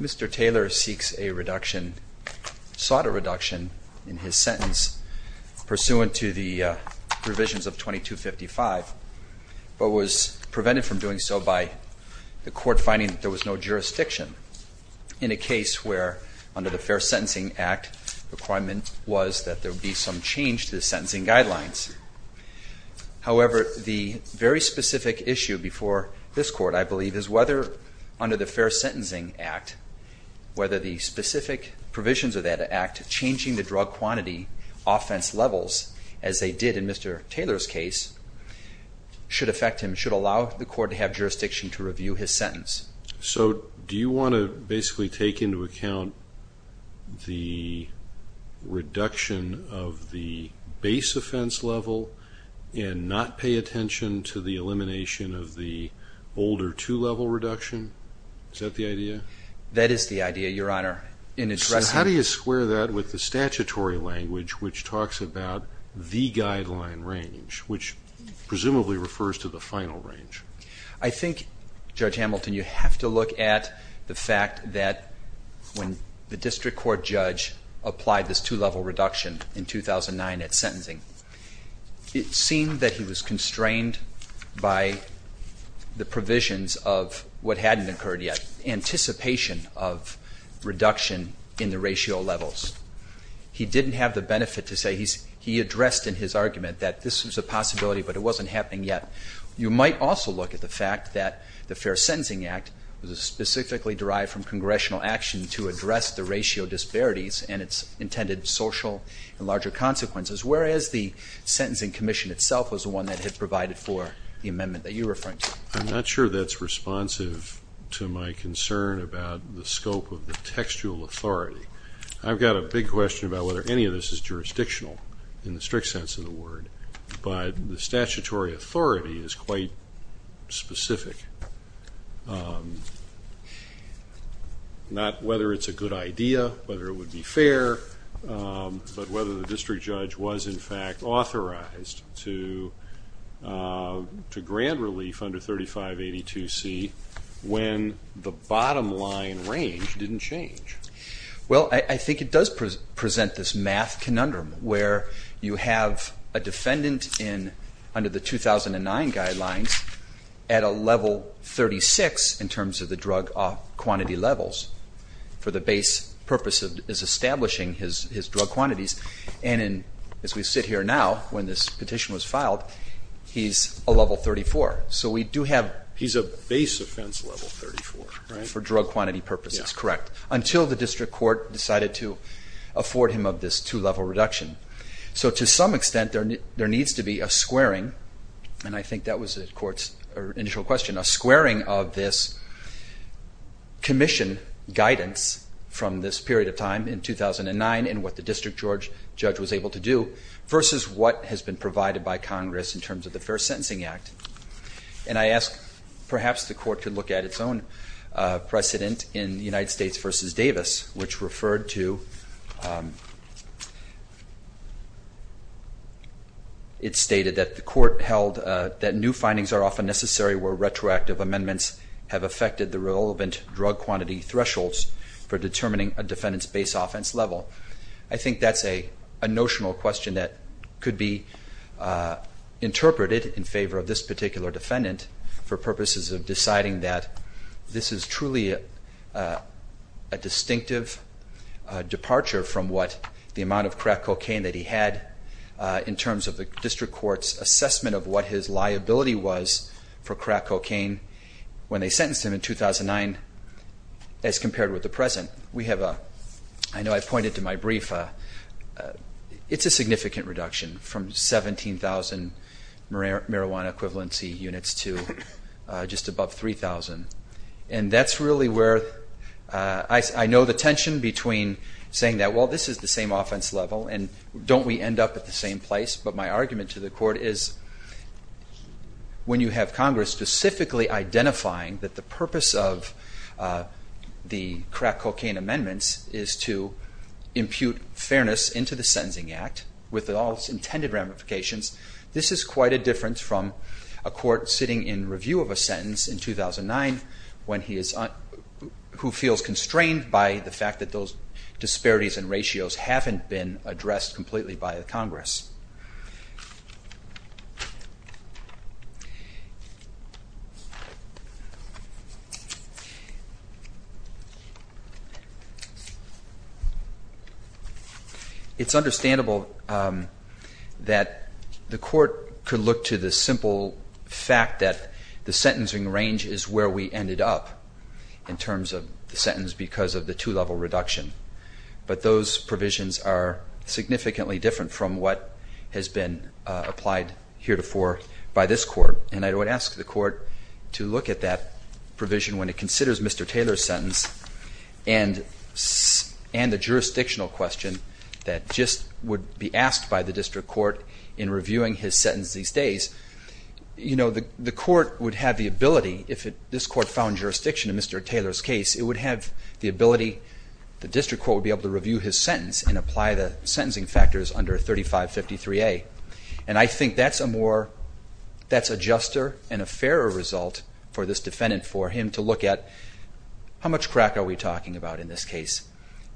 Mr. Taylor sought a reduction in his sentence pursuant to the provisions of 2255 but was in a case where under the Fair Sentencing Act requirement was that there be some change to the sentencing guidelines. However, the very specific issue before this court, I believe, is whether under the Fair Sentencing Act, whether the specific provisions of that act, changing the drug quantity offense levels, as they did in Mr. Taylor's case, should affect him, should allow the court to have jurisdiction to review his sentence. So do you want to basically take into account the reduction of the base offense level and not pay attention to the elimination of the older two-level reduction? Is that the idea? That is the idea, Your Honor. So how do you square that with the statutory language which talks about the guideline range, which presumably refers to the final range? I think, Judge Hamilton, you have to look at the fact that when the district court judge applied this two-level reduction in 2009 at sentencing, it seemed that he was constrained by the provisions of what hadn't occurred yet, anticipation of reduction in the ratio levels. He didn't have the benefit to say, he addressed in his argument that this was a possibility but it wasn't happening yet. You might also look at the fact that the Fair Sentencing Act was specifically derived from congressional action to address the ratio disparities and its intended social and larger consequences, whereas the Sentencing Commission itself was the one that had provided for the amendment that you're referring to. I'm not sure that's responsive to my concern about the scope of the textual authority. I've got a big question about whether any of this is jurisdictional in the strict sense of the word. But the statutory authority is quite specific. Not whether it's a good idea, whether it would be fair, but whether the district judge was, in fact, authorized to grant relief under 3582C when the bottom line range didn't change. Well, I think it does present this math conundrum where you have a defendant under the 2009 guidelines at a level 36 in terms of the drug quantity levels for the base purpose of establishing his drug quantities. And as we sit here now, when this petition was filed, he's a level 34. So we do have- He's a base offense level 34, right? For drug quantity purposes, correct. Until the district court decided to afford him of this two-level reduction. So to some extent, there needs to be a squaring, and I think that was the court's initial question, a squaring of this commission guidance from this period of time in 2009 in what the district judge was able to do versus what has been provided by Congress in terms of the Fair Sentencing Act. And I ask, perhaps the court could look at its own precedent in the United States versus Davis, which referred to, it stated that the court held that new findings are often necessary where retroactive amendments have affected the relevant drug quantity thresholds for determining a defendant's base offense level. I think that's a notional question that could be interpreted in favor of this particular defendant for purposes of deciding that this is truly a distinctive departure from what the amount of crack cocaine that he had in terms of the district court's assessment of what his liability was for crack cocaine when they sentenced him in 2009 as compared with the present. We have a, I know I pointed to my brief, it's a significant reduction from 17,000 marijuana equivalency units to just above 3,000. And that's really where I know the tension between saying that, well, this is the same offense level, and don't we end up at the same place? But my argument to the court is when you have Congress specifically identifying that the purpose of the crack cocaine amendments is to impute fairness into the Sentencing Act with all its intended ramifications, this is quite a difference from a court sitting in review of a sentence in 2009 when he is, who feels constrained by the fact that those disparities and ratios haven't been addressed completely by the Congress. It's understandable that the court could look to the simple fact that the sentencing range is where we ended up in terms of the sentence because of the two-level reduction. But those provisions are significantly different from what has been applied heretofore by this court. And I would ask the court to look at that provision when it considers Mr. Taylor's sentence, and the jurisdictional question that just would be asked by the district court in reviewing his sentence these days. You know, the court would have the ability, if this court found jurisdiction in Mr. Taylor's case, it would have the ability, the district court would be able to review his sentence and apply the sentencing factors under 3553A. And I think that's a more, that's a juster and a fairer result for this defendant for him to look at, how much crack are we talking about in this case?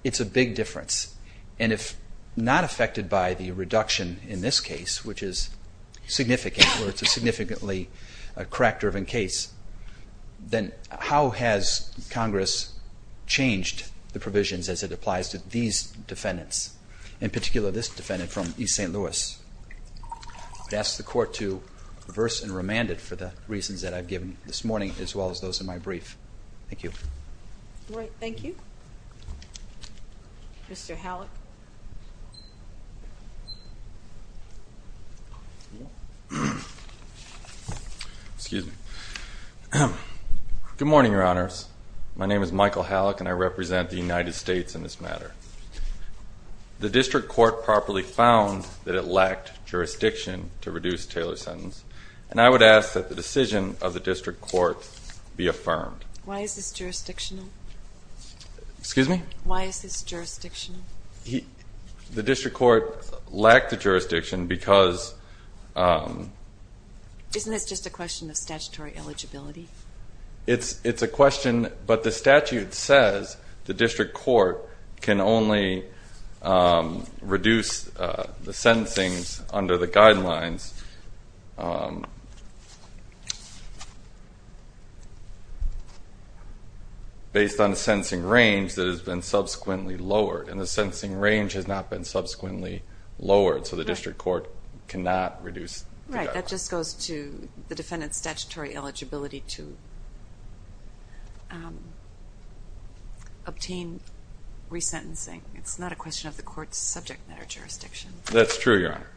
It's a big difference. And if not affected by the reduction in this case, which is significant, where it's a significantly crack-driven case, then how has Congress changed the provisions as it applies to these defendants, in particular this defendant from East St. Louis? I ask the court to reverse and remand it for the reasons that I've given this morning, as well as those in my brief. Thank you. All right, thank you. Mr. Hallock. Excuse me. Good morning, your honors. My name is Michael Hallock, and I represent the United States in this matter. The district court properly found that it lacked jurisdiction to reduce Taylor's sentence. And I would ask that the decision of the district court be affirmed. Why is this jurisdictional? Excuse me? Why is this jurisdictional? The district court lacked the jurisdiction because- Isn't this just a question of statutory eligibility? It's a question, but the statute says the district court can only reduce the sentencing under the guidelines based on the sentencing range that has been subsequently lowered. And the sentencing range has not been subsequently lowered, so the district court cannot reduce the guidelines. Right, that just goes to the defendant's statutory eligibility to obtain resentencing. It's not a question of the court's subject matter jurisdiction. That's true, your honor.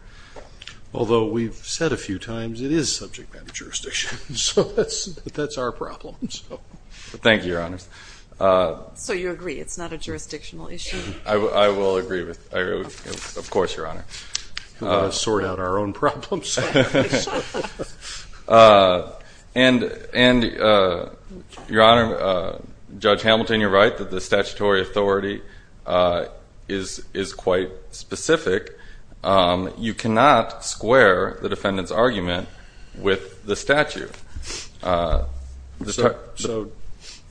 Although we've said a few times it is subject matter jurisdiction, so that's our problem, so. Thank you, your honors. So you agree it's not a jurisdictional issue? I will agree with, of course, your honor. We've got to sort out our own problems. And, your honor, Judge Hamilton, you're right that the statutory authority is quite specific. You cannot square the defendant's argument with the statute. So,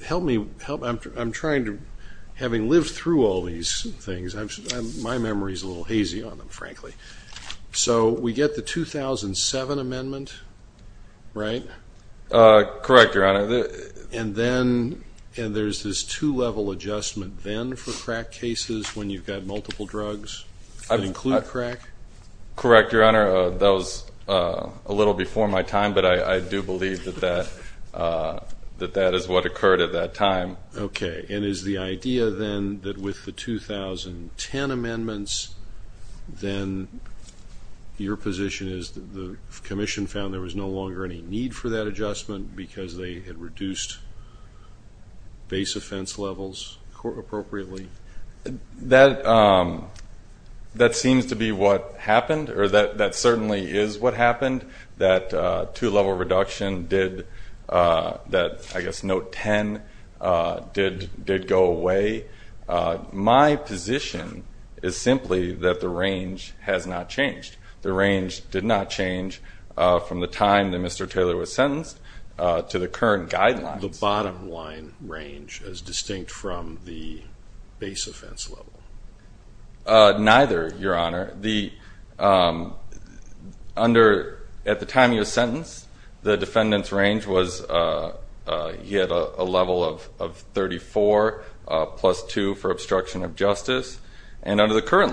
help me, I'm trying to, having lived through all these things, my memory's a little hazy on them, frankly. So, we get the 2007 amendment, right? Correct, your honor. And then, and there's this two level adjustment then for crack cases when you've got multiple drugs that include crack? Correct, your honor. That was a little before my time, but I do believe that that is what occurred at that time. Okay, and is the idea then that with the 2010 amendments, then your position is that the commission found there was no longer any need for that adjustment because they had reduced base offense levels appropriately? That seems to be what happened, or that certainly is what happened. That two level reduction did, that I guess note ten did go away. My position is simply that the range has not changed. The range did not change from the time that Mr. Taylor was sentenced to the current guidelines. The bottom line range is distinct from the base offense level? Neither, your honor. The, under, at the time he was sentenced, the defendant's range was, he had a level of 34 plus two for obstruction of justice. And under the current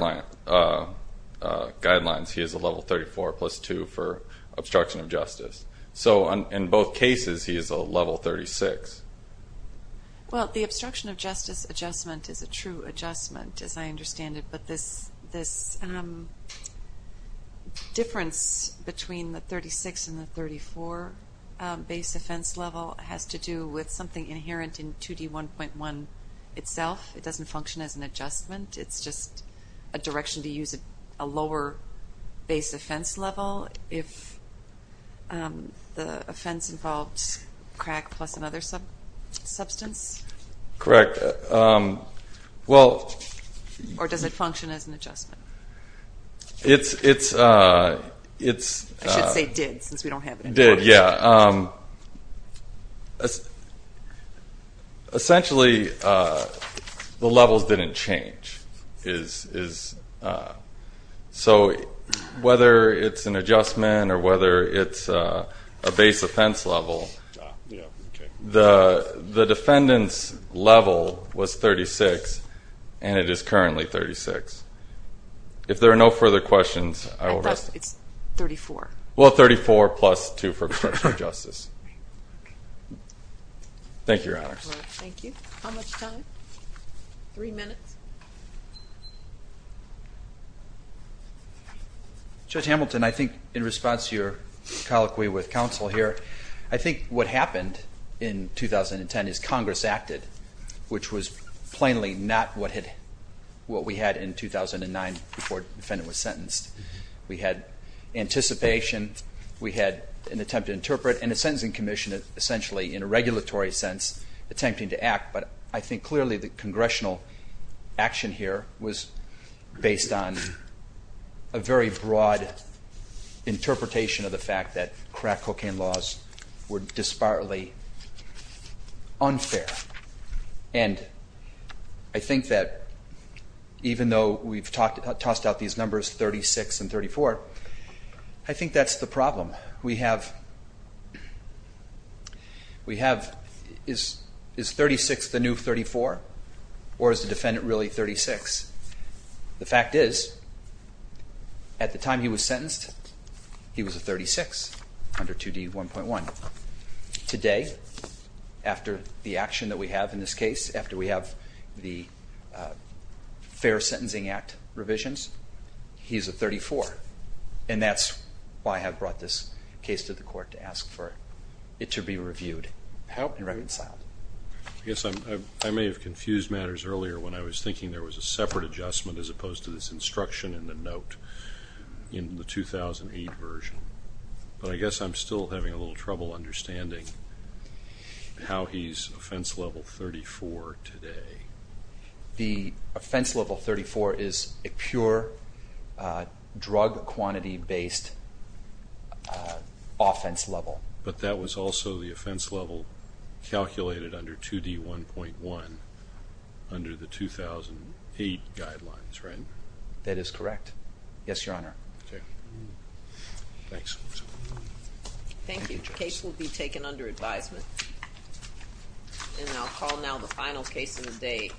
guidelines, he has a level 34 plus two for obstruction of justice. So, in both cases, he is a level 36. Well, the obstruction of justice adjustment is a true adjustment, as I understand it. But this difference between the 36 and the 34 base offense level has to do with something inherent in 2D1.1 itself. It doesn't function as an adjustment. It's just a direction to use a lower base offense level. If the offense involved crack plus another substance? Correct. Correct. Well. Or does it function as an adjustment? It's, it's, it's. I should say did, since we don't have it in court. Did, yeah. Essentially, the levels didn't change. Is, is, so whether it's an adjustment or whether it's a base offense level, the, the defendant's level was 36, and it is currently 36. If there are no further questions, I will. I thought it's 34. Well, 34 plus two for obstruction of justice. Thank you, Your Honors. Thank you. How much time? Three minutes. Judge Hamilton, I think in response to your colloquy with counsel here, I think what happened in 2010 is Congress acted, which was plainly not what had, what we had in 2009 before the defendant was sentenced. We had anticipation, we had an attempt to interpret, and a sentencing commission essentially in a regulatory sense attempting to act. But I think clearly the congressional action here was based on a very broad interpretation of the fact that crack cocaine laws were disparately unfair. And I think that even though we've talked, tossed out these numbers 36 and 34, I think that's the problem. We have, we have, is, is 36 the new 34? Or is the defendant really 36? The fact is, at the time he was sentenced, he was a 36 under 2D1.1. Today, after the action that we have in this case, after we have the Fair Sentencing Act revisions, he's a 34. And that's why I have brought this case to the court to ask for it to be reviewed and reconciled. I guess I may have confused matters earlier when I was thinking there was a separate adjustment as opposed to this instruction in the note in the 2008 version. But I guess I'm still having a little trouble understanding how he's offense level 34 today. The offense level 34 is a pure drug quantity based offense level. But that was also the offense level calculated under 2D1.1 under the 2008 guidelines, right? That is correct. Yes, your honor. Okay. Thanks. Thank you. The case will be taken under advisement. And I'll call now the final case of the day.